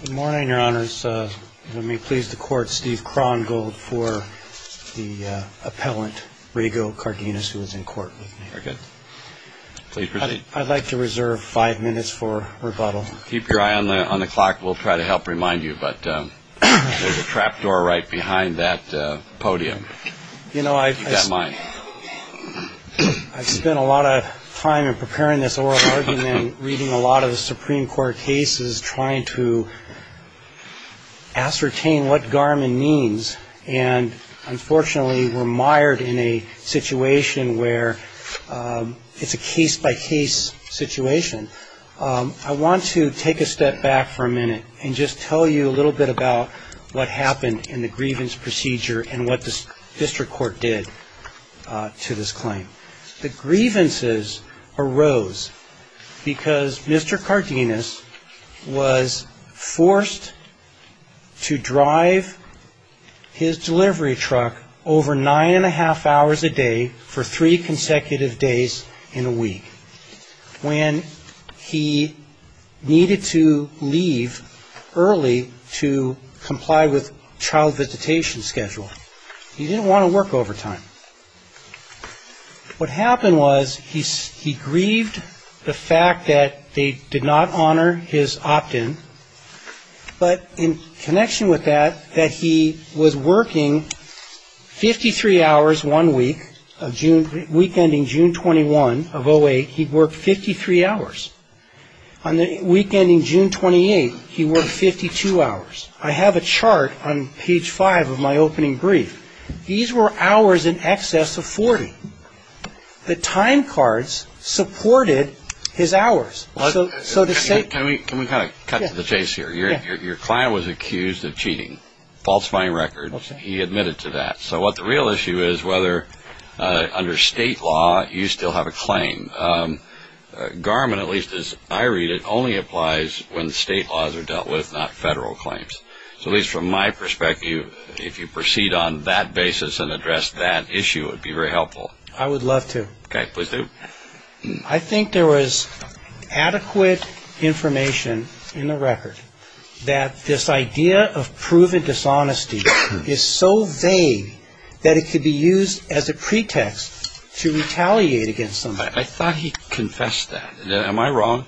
Good morning, Your Honors. Let me please the Court, Steve Krongold, for the appellant, Rego Cardenas, who is in court with me. Very good. Please proceed. I'd like to reserve five minutes for rebuttal. Keep your eye on the clock. We'll try to help remind you, but there's a trapdoor right behind that podium. Keep that in mind. I've spent a lot of time in preparing this oral argument, reading a lot of the Supreme Court cases, trying to ascertain what Garmin means, and unfortunately we're mired in a situation where it's a case-by-case situation. I want to take a step back for a minute and just tell you a little bit about what happened in the grievance procedure and what the district court did to this claim. The grievances arose because Mr. Cardenas was forced to drive his delivery truck over nine-and-a-half hours a day for three consecutive days in a week when he needed to leave early to comply with child visitation schedule. He didn't want to work overtime. What happened was he grieved the fact that they did not honor his opt-in, but in connection with that, that he was working 53 hours one week, week ending June 21 of 08, he worked 53 hours. On the week ending June 28, he worked 52 hours. I have a chart on page five of my opening brief. These were hours in excess of 40. The time cards supported his hours. Can we kind of cut to the chase here? Your client was accused of cheating, falsifying records. He admitted to that. So what the real issue is whether under state law you still have a claim. Garment, at least as I read it, only applies when state laws are dealt with, not federal claims. So at least from my perspective, if you proceed on that basis and address that issue, it would be very helpful. I would love to. Okay, please do. I think there was adequate information in the record that this idea of proven dishonesty is so vague that it could be used as a pretext to retaliate against somebody. I thought he confessed that. Am I wrong?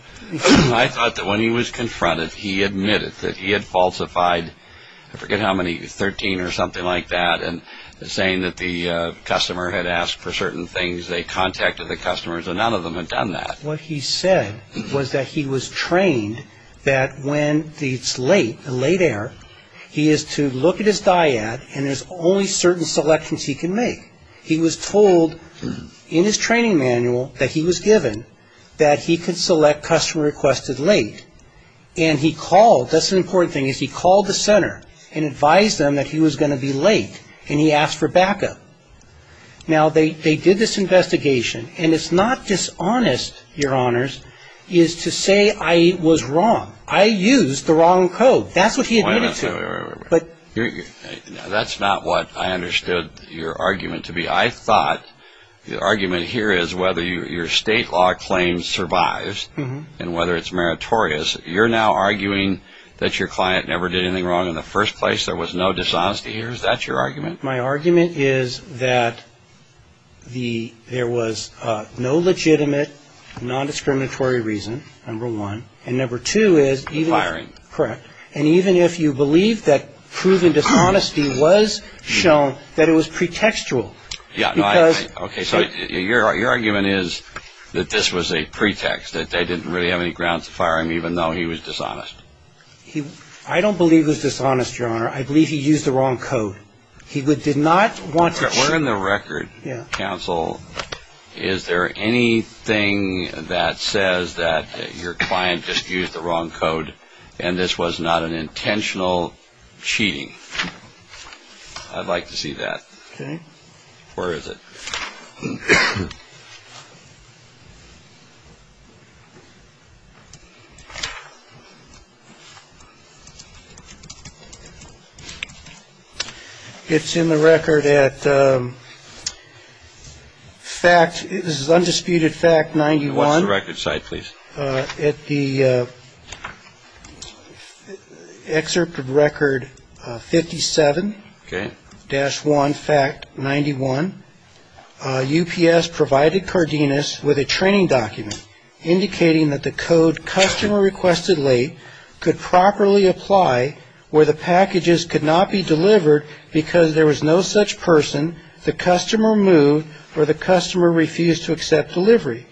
I thought that when he was confronted, he admitted that he had falsified, I forget how many, 13 or something like that, and saying that the customer had asked for certain things, they contacted the customers, and none of them had done that. What he said was that he was trained that when it's late, a late error, he is to look at his dyad, and there's only certain selections he can make. He was told in his training manual that he was given that he could select customer requested late. And he called, that's an important thing, is he called the center and advised them that he was going to be late, and he asked for backup. Now, they did this investigation, and it's not dishonest, your honors, is to say I was wrong. I used the wrong code. That's what he admitted to. That's not what I understood your argument to be. I thought the argument here is whether your state law claim survives and whether it's meritorious. You're now arguing that your client never did anything wrong in the first place. There was no dishonesty here. Is that your argument? My argument is that there was no legitimate nondiscriminatory reason, number one. And number two is even if you believe that proven dishonesty was shown, that it was pretextual. Okay, so your argument is that this was a pretext, that they didn't really have any grounds to fire him even though he was dishonest. I don't believe it was dishonest, your honor. I believe he used the wrong code. He did not want to cheat. We're in the record, counsel. Is there anything that says that your client just used the wrong code and this was not an intentional cheating? I'd like to see that. Where is it? It's in the record at fact. This is undisputed fact. What's the record site, please? At the excerpt of record 57-1, fact 91. UPS provided Cardenas with a training document indicating that the code customer requested late could properly apply where the packages could not be delivered because there was no such person. The customer moved or the customer refused to accept delivery.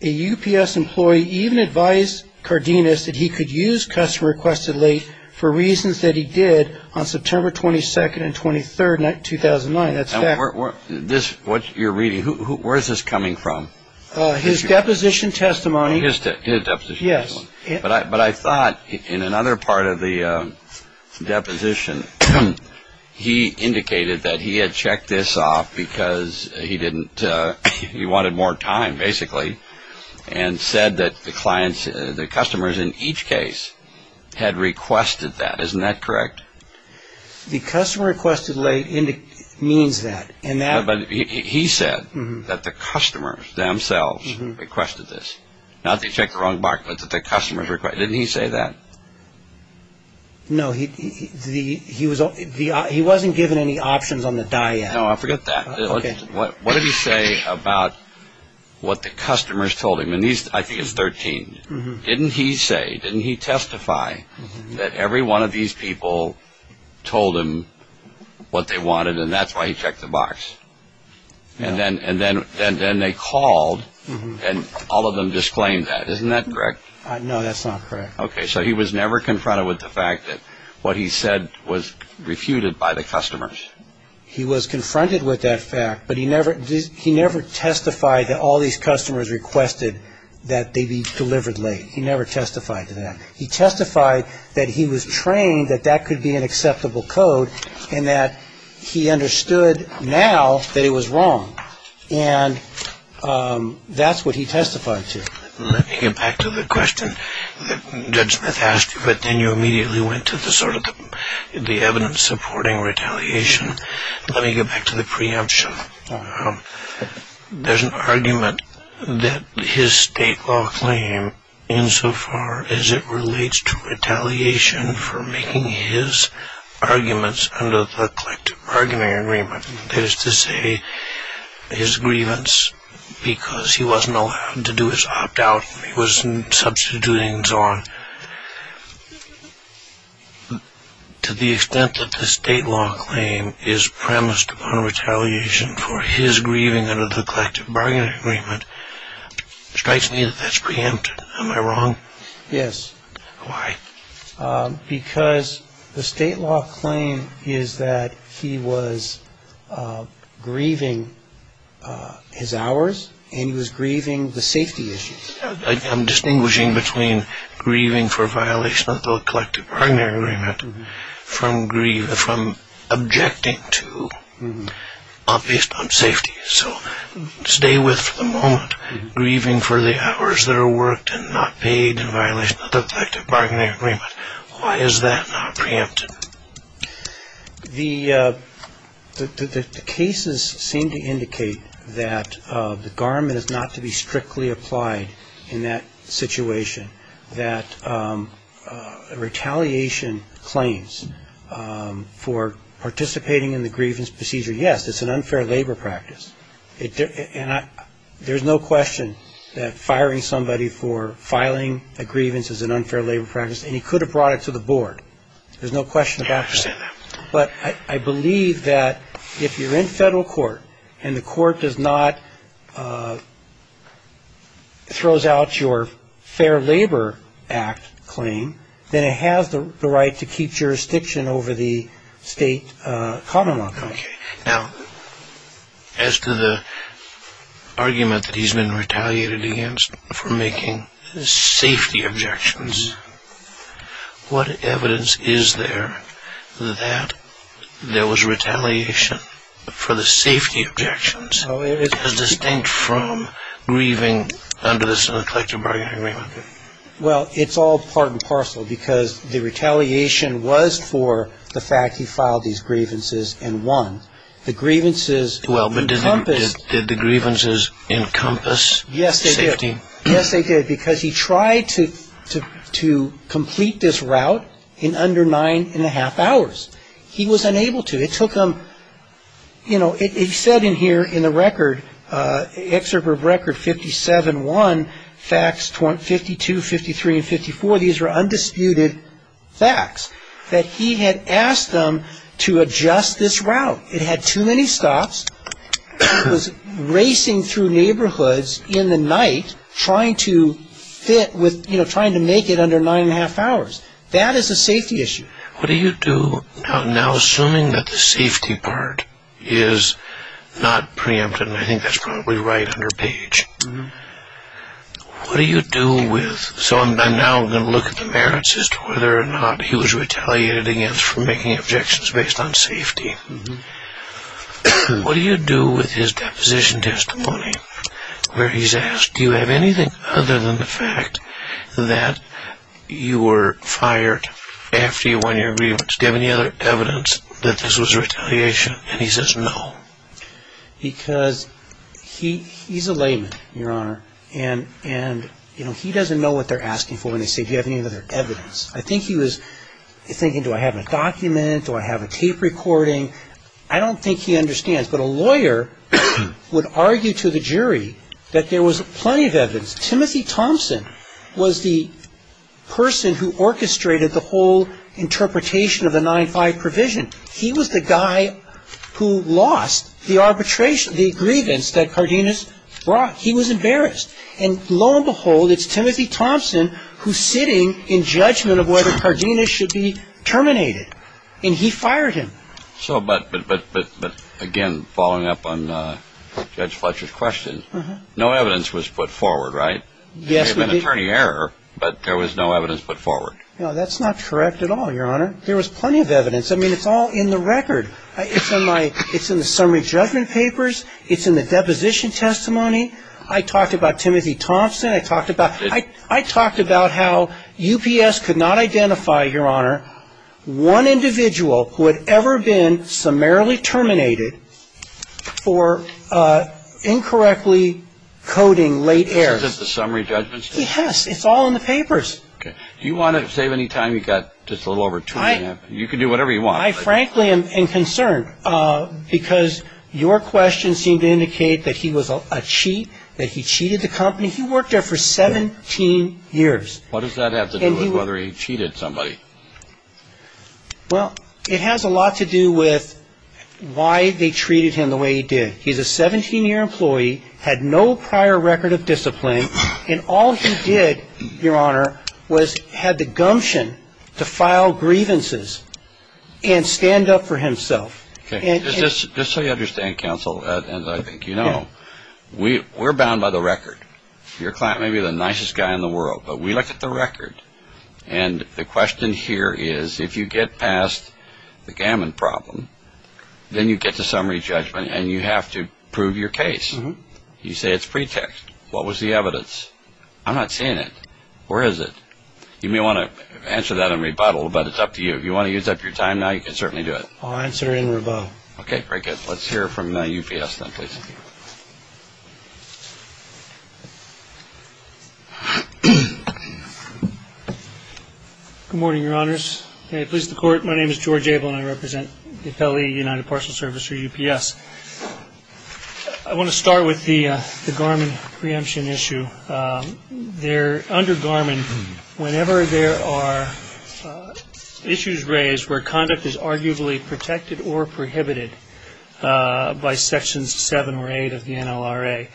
A UPS employee even advised Cardenas that he could use customer requested late for reasons that he did on September 22nd and 23rd, 2009. That's fact. What you're reading, where is this coming from? His deposition testimony. His deposition testimony. Yes. But I thought in another part of the deposition, he indicated that he had checked this off because he wanted more time, basically, and said that the customers in each case had requested that. Isn't that correct? The customer requested late means that. He said that the customers themselves requested this. Not that he checked the wrong box, but that the customers requested it. Didn't he say that? No, he wasn't given any options on the die yet. No, I forget that. What did he say about what the customers told him? And I think it's 13. Didn't he say, didn't he testify that every one of these people told him what they wanted and that's why he checked the box? And then they called and all of them disclaimed that. Isn't that correct? No, that's not correct. Okay. So he was never confronted with the fact that what he said was refuted by the customers. He was confronted with that fact, but he never testified that all these customers requested that they be delivered late. He never testified to that. He testified that he was trained that that could be an acceptable code and that he understood now that it was wrong. And that's what he testified to. Let me get back to the question that Judge Smith asked you, but then you immediately went to the sort of the evidence supporting retaliation. Let me get back to the preemption. There's an argument that his state law claim, insofar as it relates to retaliation for making his arguments under the collective bargaining agreement, that is to say his grievance because he wasn't allowed to do his opt-out, he wasn't substituting and so on. But to the extent that the state law claim is premised on retaliation for his grieving under the collective bargaining agreement strikes me that that's preempt. Am I wrong? Yes. Why? Because the state law claim is that he was grieving his hours and he was grieving the safety issues. I'm distinguishing between grieving for violation of the collective bargaining agreement from objecting to based on safety. So stay with for the moment grieving for the hours that are worked and not paid in violation of the collective bargaining agreement. Why is that not preempted? The cases seem to indicate that the garment is not to be strictly applied in that situation, that retaliation claims for participating in the grievance procedure, yes, it's an unfair labor practice. And there's no question that firing somebody for filing a grievance is an unfair labor practice. And he could have brought it to the board. There's no question about that. I understand that. But I believe that if you're in federal court and the court does not throws out your fair labor act claim, then it has the right to keep jurisdiction over the state common law claim. Okay. Now, as to the argument that he's been retaliated against for making safety objections, what evidence is there that there was retaliation for the safety objections, as distinct from grieving under the collective bargaining agreement? Well, it's all part and parcel because the retaliation was for the fact he filed these grievances and won. The grievances encompassed. Did the grievances encompass safety? Yes, they did. Because he tried to complete this route in under nine and a half hours. He was unable to. You know, it said in here in the record, excerpt of record 57-1, facts 52, 53, and 54. These were undisputed facts that he had asked them to adjust this route. It had too many stops. It was racing through neighborhoods in the night trying to fit with, you know, trying to make it under nine and a half hours. That is a safety issue. What do you do now, assuming that the safety part is not preempted, and I think that's probably right under page, what do you do with So I'm now going to look at the merits as to whether or not he was retaliated against for making objections based on safety. What do you do with his deposition testimony where he's asked, Do you have anything other than the fact that you were fired after you won your grievance? Do you have any other evidence that this was retaliation? And he says no. Because he's a layman, Your Honor, and he doesn't know what they're asking for when they say, Do you have any other evidence? I think he was thinking, Do I have a document? Do I have a tape recording? I don't think he understands, but a lawyer would argue to the jury that there was plenty of evidence. Timothy Thompson was the person who orchestrated the whole interpretation of the 9-5 provision. He was the guy who lost the arbitration, the grievance that Cardenas brought. He was embarrassed. And lo and behold, it's Timothy Thompson who's sitting in judgment of whether Cardenas should be terminated. And he fired him. So but again, following up on Judge Fletcher's question, no evidence was put forward, right? Yes, we did. There may have been attorney error, but there was no evidence put forward. No, that's not correct at all, Your Honor. There was plenty of evidence. I mean, it's all in the record. It's in the summary judgment papers. It's in the deposition testimony. I talked about Timothy Thompson. I talked about how UPS could not identify, Your Honor, one individual who had ever been summarily terminated for incorrectly coding late errors. Is this the summary judgment stuff? Yes. It's all in the papers. Okay. Do you want to save any time? You've got just a little over two minutes. You can do whatever you want. I frankly am concerned because your question seemed to indicate that he was a cheat, that he cheated the company. He worked there for 17 years. What does that have to do with whether he cheated somebody? Well, it has a lot to do with why they treated him the way he did. He's a 17-year employee, had no prior record of discipline, and all he did, Your Honor, was had the gumption to file grievances and stand up for himself. Just so you understand, counsel, and I think you know, we're bound by the record. Your client may be the nicest guy in the world, but we look at the record, and the question here is if you get past the Gammon problem, then you get to summary judgment, and you have to prove your case. You say it's pretext. What was the evidence? I'm not seeing it. Where is it? You may want to answer that in rebuttal, but it's up to you. If you want to use up your time now, you can certainly do it. I'll answer in rebuttal. Okay, very good. Let's hear from UPS now, please. Good morning, Your Honors. May I please the Court? My name is George Abel, and I represent the Appellee United Parcel Service, or UPS. I want to start with the Garmin preemption issue. Under Garmin, whenever there are issues raised where conduct is arguably protected or prohibited by Sections 7 or 8 of the NLRA,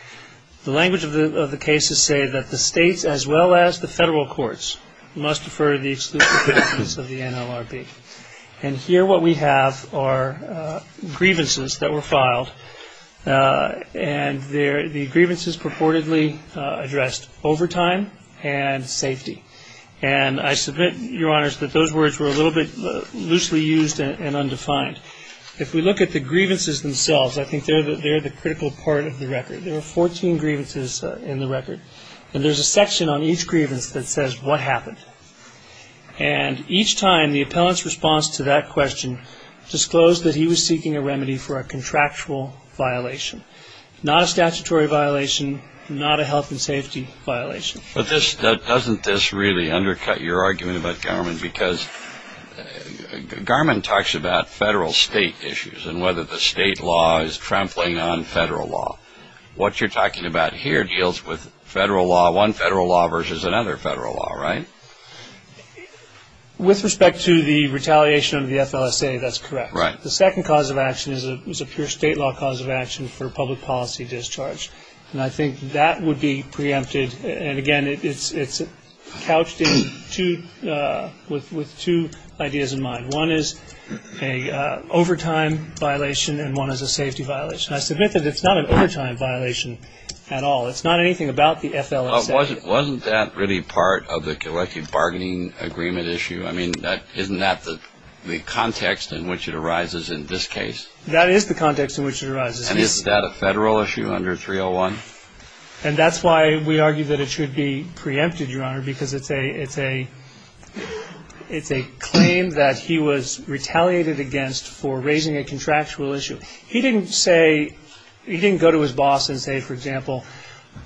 the language of the case is to say that the states, as well as the federal courts, must defer the exclusion of the NLRB. And here what we have are grievances that were filed, and the grievances purportedly addressed overtime and safety. And I submit, Your Honors, that those words were a little bit loosely used and undefined. If we look at the grievances themselves, I think they're the critical part of the record. There were 14 grievances in the record, and there's a section on each grievance that says, What happened? And each time the appellant's response to that question disclosed that he was seeking a remedy for a contractual violation, not a statutory violation, not a health and safety violation. But doesn't this really undercut your argument about Garmin? Because Garmin talks about federal-state issues and whether the state law is trampling on federal law. What you're talking about here deals with federal law, one federal law versus another federal law, right? With respect to the retaliation of the FLSA, that's correct. Right. The second cause of action is a pure state law cause of action for public policy discharge. And I think that would be preempted. And, again, it's couched with two ideas in mind. One is an overtime violation, and one is a safety violation. I submit that it's not an overtime violation at all. It's not anything about the FLSA. Wasn't that really part of the collective bargaining agreement issue? I mean, isn't that the context in which it arises in this case? That is the context in which it arises. And is that a federal issue under 301? And that's why we argue that it should be preempted, Your Honor, because it's a claim that he was retaliated against for raising a contractual issue. He didn't say he didn't go to his boss and say, for example,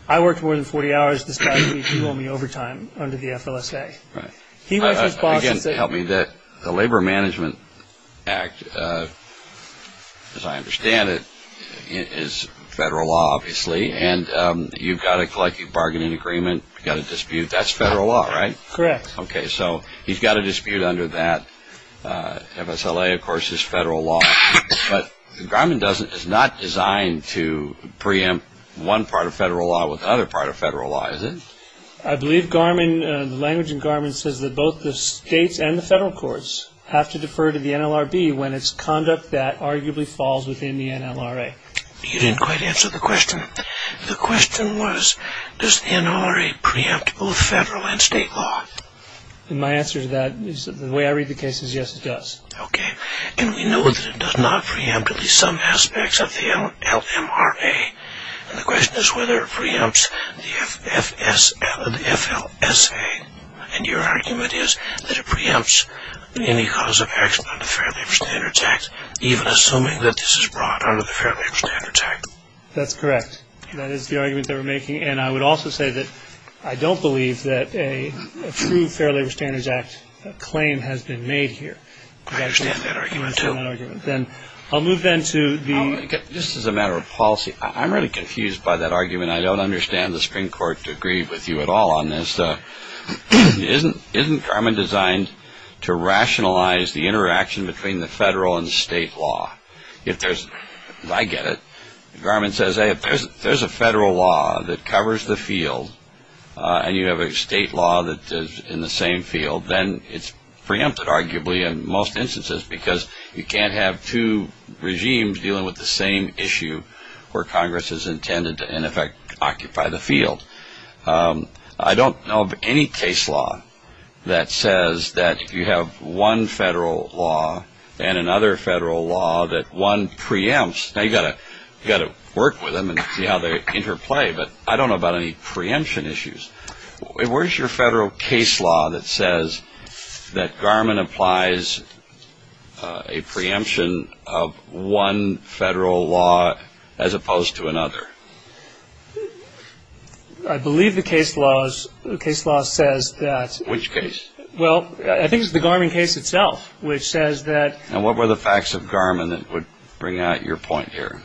I worked more than 40 hours this past week, you owe me overtime under the FLSA. Right. Again, help me. The Labor Management Act, as I understand it, is federal law, obviously, and you've got a collective bargaining agreement. You've got a dispute. That's federal law, right? Correct. So he's got a dispute under that. MSLA, of course, is federal law. But Garmin is not designed to preempt one part of federal law with another part of federal law, is it? I believe Garmin, the language in Garmin, says that both the states and the federal courts have to defer to the NLRB when it's conduct that arguably falls within the NLRA. You didn't quite answer the question. The question was, does the NLRA preempt both federal and state law? My answer to that is the way I read the case is yes, it does. Okay. And we know that it does not preempt at least some aspects of the LMRA. And the question is whether it preempts the FLSA. And your argument is that it preempts any cause of action under the Fair Labor Standards Act, even assuming that this is brought under the Fair Labor Standards Act. That's correct. That is the argument that we're making. And I would also say that I don't believe that a true Fair Labor Standards Act claim has been made here. I understand that argument, too. Then I'll move then to the – Just as a matter of policy, I'm really confused by that argument. I don't understand the Supreme Court to agree with you at all on this. Isn't Garmin designed to rationalize the interaction between the federal and state law? If there's – I get it. Garmin says, hey, if there's a federal law that covers the field and you have a state law that is in the same field, then it's preempted arguably in most instances because you can't have two regimes dealing with the same issue where Congress is intended to, in effect, occupy the field. I don't know of any case law that says that you have one federal law and another federal law that one preempts. Now, you've got to work with them and see how they interplay, but I don't know about any preemption issues. Where's your federal case law that says that Garmin applies a preemption of one federal law as opposed to another? I believe the case law says that – Which case? Well, I think it's the Garmin case itself, which says that – And what were the facts of Garmin that would bring out your point here?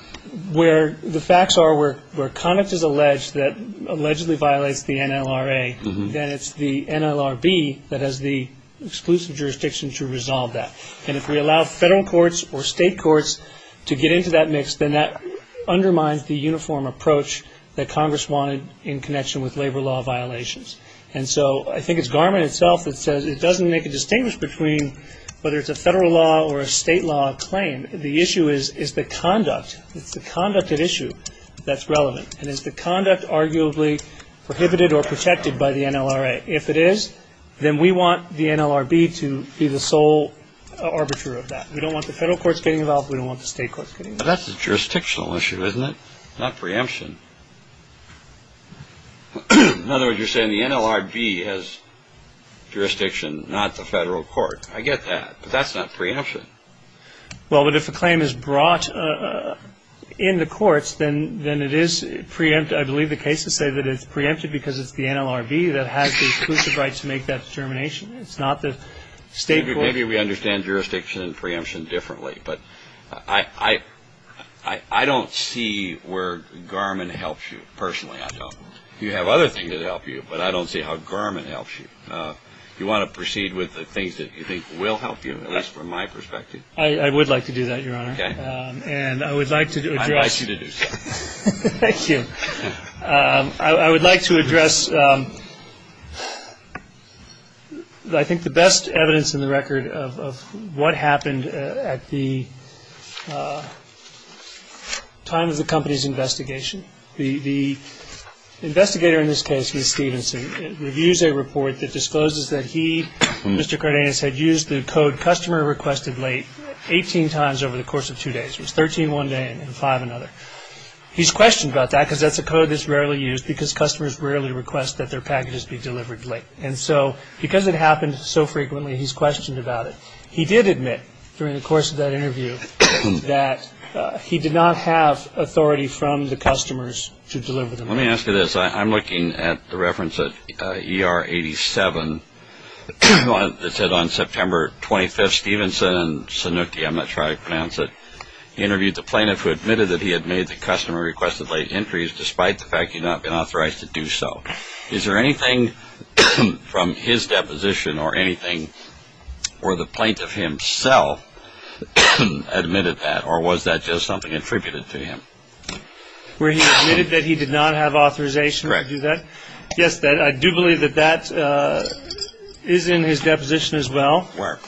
The facts are where conduct is alleged that allegedly violates the NLRA, then it's the NLRB that has the exclusive jurisdiction to resolve that. And if we allow federal courts or state courts to get into that mix, then that undermines the uniform approach that Congress wanted in connection with labor law violations. And so I think it's Garmin itself that says it doesn't make a distinction between whether it's a federal law or a state law claim. The issue is the conduct. It's the conduct at issue that's relevant. And is the conduct arguably prohibited or protected by the NLRA? If it is, then we want the NLRB to be the sole arbiter of that. We don't want the federal courts getting involved. We don't want the state courts getting involved. That's a jurisdictional issue, isn't it? Not preemption. In other words, you're saying the NLRB has jurisdiction, not the federal court. I get that, but that's not preemption. Well, but if a claim is brought in the courts, then it is preempt. I believe the cases say that it's preempted because it's the NLRB that has the exclusive right to make that determination. It's not the state court. Maybe we understand jurisdiction and preemption differently. But I don't see where Garmin helps you. Personally, I don't. You have other things that help you, but I don't see how Garmin helps you. You want to proceed with the things that you think will help you, at least from my perspective? I would like to do that, Your Honor. Okay. And I would like to address. I'd like you to do so. Thank you. I would like to address, I think, the best evidence in the record of what happened at the time of the company's investigation. The investigator in this case, Stevenson, reviews a report that discloses that he, Mr. Cardenas, had used the code, customer requested late, 18 times over the course of two days. It was 13 one day and five another. He's questioned about that because that's a code that's rarely used because customers rarely request that their packages be delivered late. And so because it happened so frequently, he's questioned about it. He did admit during the course of that interview that he did not have authority from the customers to deliver the mail. Let me ask you this. I'm looking at the reference at ER 87. It said on September 25th, Stevenson, I'm not sure how to pronounce it, interviewed the plaintiff who admitted that he had made the customer requested late entries despite the fact he had not been authorized to do so. Is there anything from his deposition or anything where the plaintiff himself admitted that, or was that just something attributed to him? Where he admitted that he did not have authorization to do that? Correct. Yes, I do believe that that is in his deposition as well. Where?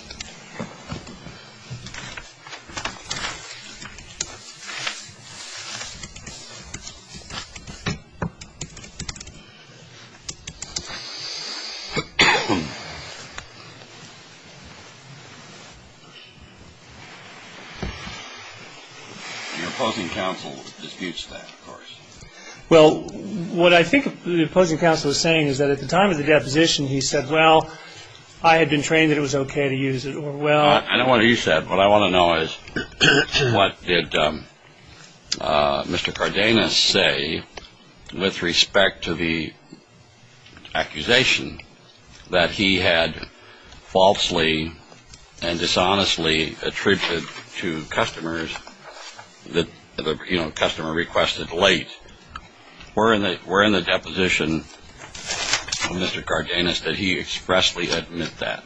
Your opposing counsel disputes that, of course. Well, what I think the opposing counsel is saying is that at the time of the deposition, he said, well, I had been trained that it was okay to use it, or well. I don't want to use that. What I want to know is what did Mr. Cardenas say with respect to the accusation that he had falsely and dishonestly attributed to customers that the customer requested late? We're in the deposition of Mr. Cardenas. Did he expressly admit that?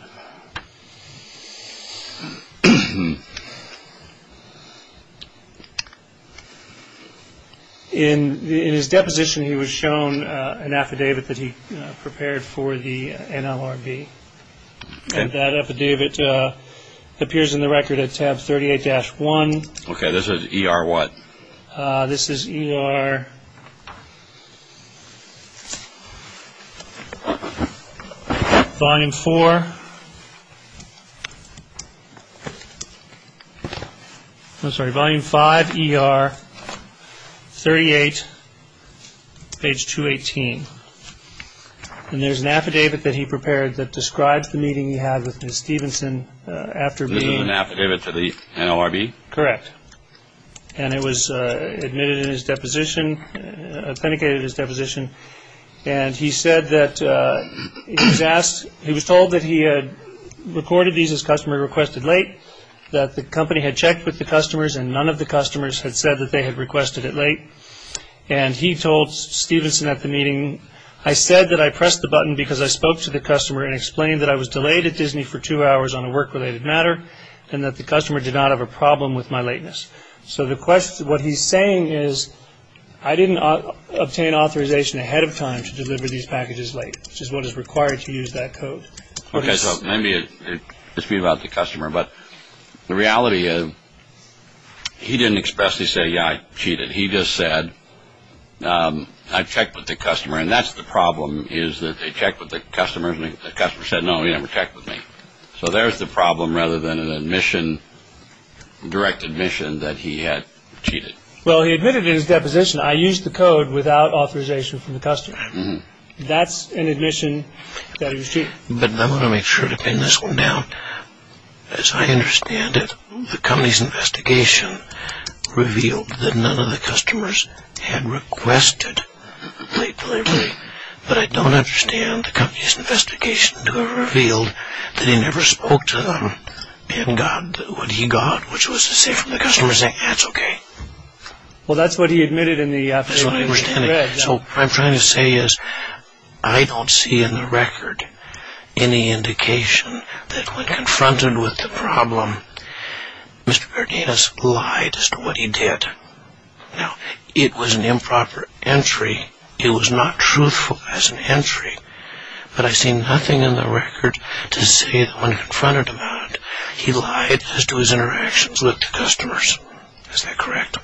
In his deposition, he was shown an affidavit that he prepared for the NLRB, and that affidavit appears in the record at tab 38-1. Okay, this is ER what? This is ER Volume 4. I'm sorry, Volume 5, ER 38, page 218. And there's an affidavit that he prepared that describes the meeting he had with Ms. Stevenson after being This is an affidavit to the NLRB? Correct. And it was admitted in his deposition, authenticated in his deposition. And he said that he was asked, he was told that he had recorded these as customer requested late, that the company had checked with the customers and none of the customers had said that they had requested it late. And he told Stevenson at the meeting, I said that I pressed the button because I spoke to the customer and explained that I was delayed at Disney for two hours on a work-related matter and that the customer did not have a problem with my lateness. So what he's saying is I didn't obtain authorization ahead of time to deliver these packages late, which is what is required to use that code. Okay, so maybe it's about the customer, but the reality is he didn't expressly say, yeah, I cheated. He just said, I checked with the customer, and that's the problem is that they checked with the customer and the customer said, no, he never checked with me. So there's the problem rather than an admission, direct admission that he had cheated. Well, he admitted in his deposition, I used the code without authorization from the customer. That's an admission that he was cheating. But I want to make sure to pin this one down. As I understand it, the company's investigation revealed that none of the customers had requested late delivery. But I don't understand the company's investigation to have revealed that he never spoke to them and got what he got, which was to say from the customer saying, that's okay. Well, that's what he admitted in the affidavit he read. So what I'm trying to say is I don't see in the record any indication that when confronted with the problem, Mr. Martinez lied as to what he did. Now, it was an improper entry. It was not truthful as an entry. But I see nothing in the record to say that when confronted about it, he lied as to his interactions with the customers. Is that correct?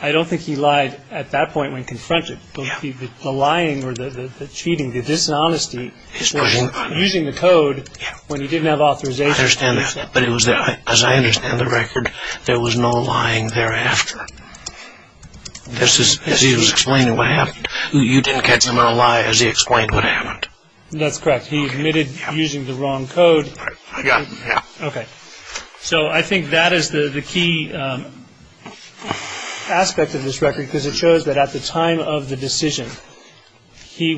I don't think he lied at that point when confronted. The lying or the cheating, the dishonesty was using the code when he didn't have authorization. I understand that. But as I understand the record, there was no lying thereafter. As he was explaining what happened, you didn't catch him in a lie as he explained what happened. That's correct. He admitted using the wrong code. Yeah. Okay. So I think that is the key aspect of this record because it shows that at the time of the decision, he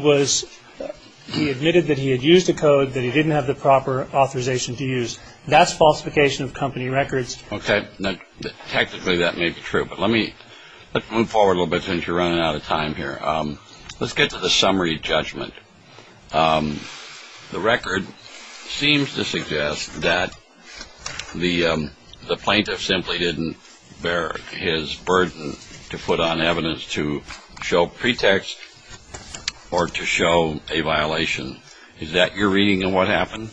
admitted that he had used a code that he didn't have the proper authorization to use. That's falsification of company records. Okay. Technically, that may be true. But let's move forward a little bit since you're running out of time here. Let's get to the summary judgment. The record seems to suggest that the plaintiff simply didn't bear his burden to put on evidence to show pretext or to show a violation. Is that your reading of what happened?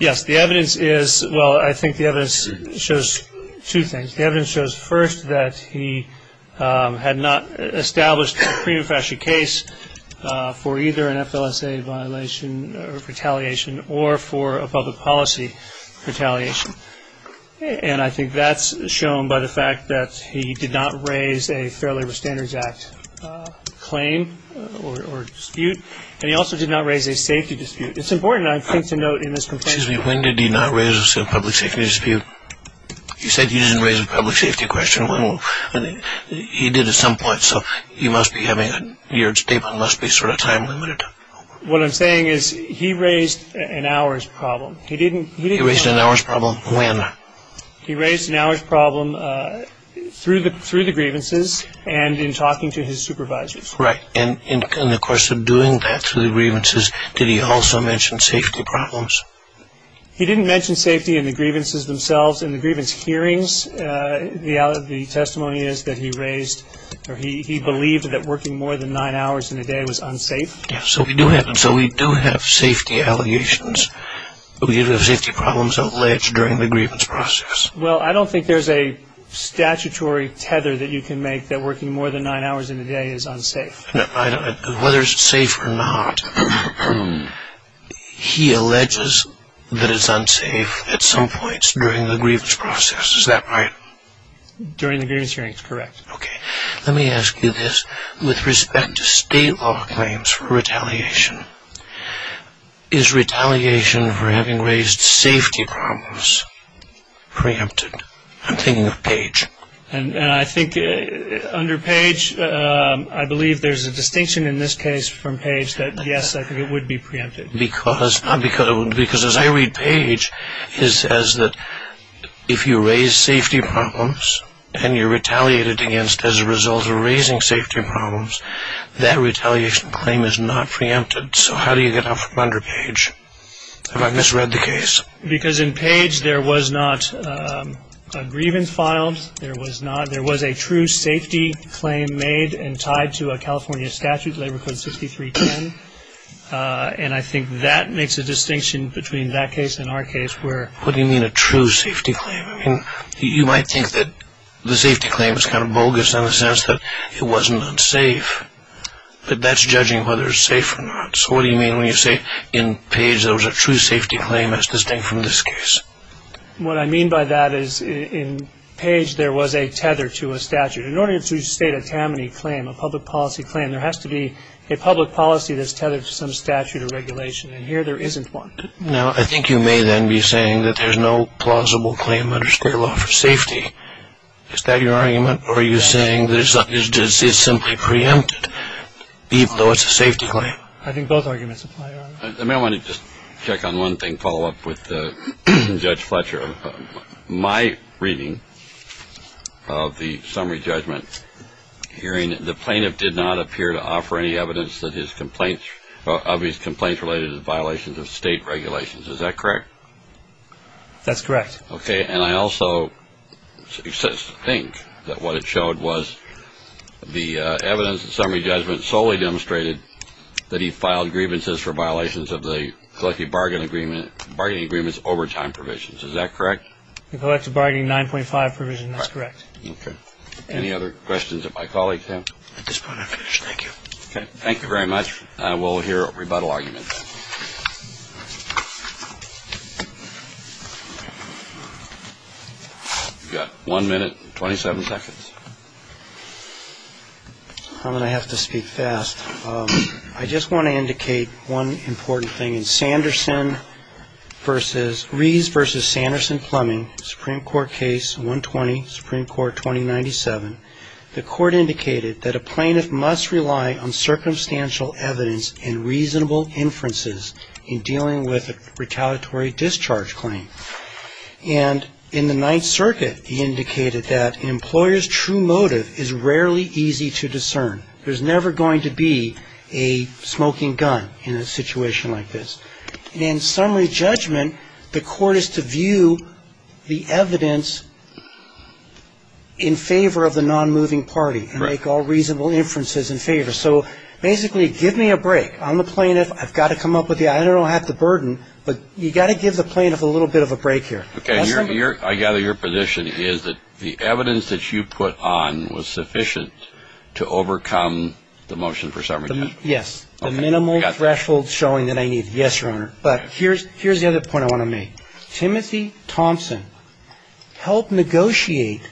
Yes. The evidence is, well, I think the evidence shows two things. The evidence shows first that he had not established a pre-manufactured case for either an FLSA violation or retaliation or for a public policy retaliation. And I think that's shown by the fact that he did not raise a Fair Labor Standards Act claim or dispute, and he also did not raise a safety dispute. It's important, I think, to note in this complaint. Excuse me. When did he not raise a public safety dispute? You said he didn't raise a public safety question. He did at some point, so you must be having your statement must be sort of time limited. What I'm saying is he raised an hours problem. He raised an hours problem when? He raised an hours problem through the grievances and in talking to his supervisors. Right. And in the course of doing that through the grievances, did he also mention safety problems? He didn't mention safety in the grievances themselves. In the grievance hearings, the testimony is that he raised or he believed that working more than nine hours in a day was unsafe. So we do have safety allegations. We do have safety problems alleged during the grievance process. Well, I don't think there's a statutory tether that you can make that working more than nine hours in a day is unsafe. Whether it's safe or not, he alleges that it's unsafe at some points during the grievance process. Is that right? During the grievance hearings, correct. Okay, let me ask you this. With respect to state law claims for retaliation, is retaliation for having raised safety problems preempted? I'm thinking of Page. And I think under Page, I believe there's a distinction in this case from Page that, yes, I think it would be preempted. Because as I read Page, it says that if you raise safety problems and you're retaliated against as a result of raising safety problems, that retaliation claim is not preempted. So how do you get out from under Page? Have I misread the case? Because in Page, there was not a grievance filed. There was a true safety claim made and tied to a California statute, Labor Code 6310. And I think that makes a distinction between that case and our case. What do you mean a true safety claim? You might think that the safety claim is kind of bogus in the sense that it wasn't unsafe. But that's judging whether it's safe or not. So what do you mean when you say in Page there was a true safety claim that's distinct from this case? What I mean by that is in Page, there was a tether to a statute. In order to state a Tammany claim, a public policy claim, there has to be a public policy that's tethered to some statute or regulation. And here there isn't one. Now, I think you may then be saying that there's no plausible claim under square law for safety. Is that your argument? Or are you saying that it's simply preempted, even though it's a safety claim? I think both arguments apply, Your Honor. I may want to just check on one thing, follow up with Judge Fletcher. My reading of the summary judgment hearing, the plaintiff did not appear to offer any evidence of his complaints related to violations of state regulations. Is that correct? That's correct. Okay. And I also think that what it showed was the evidence in summary judgment solely demonstrated that he filed grievances for violations of the collective bargaining agreement's overtime provisions. Is that correct? The collective bargaining 9.5 provision, that's correct. Okay. Any other questions that my colleagues have? At this point, I'm finished. Thank you. Okay. Thank you very much. We'll hear rebuttal arguments. You've got one minute and 27 seconds. I'm going to have to speak fast. I just want to indicate one important thing. In Sanderson v. Rees v. Sanderson-Plumbing, Supreme Court case 120, Supreme Court 2097, the court indicated that a plaintiff must rely on circumstantial evidence and reasonable inferences in dealing with a retaliatory discharge claim. And in the Ninth Circuit, he indicated that an employer's true motive is rarely easy to discern. There's never going to be a smoking gun in a situation like this. In summary judgment, the court is to view the evidence in favor of the nonmoving party and make all reasonable inferences in favor. So basically, give me a break. I'm the plaintiff. I've got to come up with the idea. I don't have to burden, but you've got to give the plaintiff a little bit of a break here. Okay. I gather your position is that the evidence that you put on was sufficient to overcome the motion for summary judgment. Yes. The minimal threshold showing that I need. Yes, Your Honor. But here's the other point I want to make. Timothy Thompson helped negotiate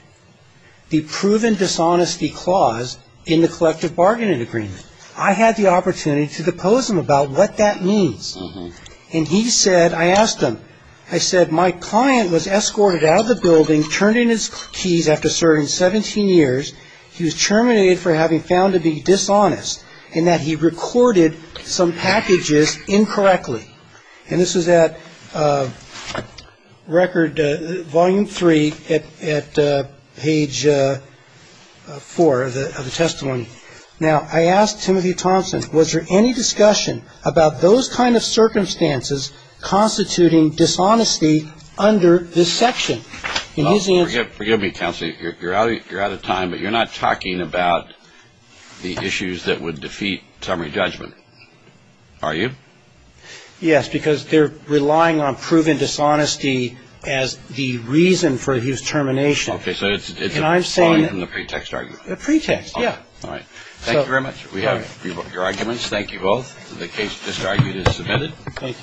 the proven dishonesty clause in the collective bargaining agreement. I had the opportunity to depose him about what that means. And he said, I asked him, I said, my client was escorted out of the building, turned in his keys after serving 17 years. He was terminated for having found to be dishonest in that he recorded some packages incorrectly. And this was at record volume three at page four of the testimony. Now, I asked Timothy Thompson, was there any discussion about those kind of circumstances constituting dishonesty under this section? In his answer. Forgive me, counsel. You're out of time, but you're not talking about the issues that would defeat summary judgment, are you? Yes, because they're relying on proven dishonesty as the reason for his termination. Okay. So it's a pretext argument. Pretext, yeah. All right. Thank you very much. We have your arguments. Thank you both. The case just argued is submitted. Thank you.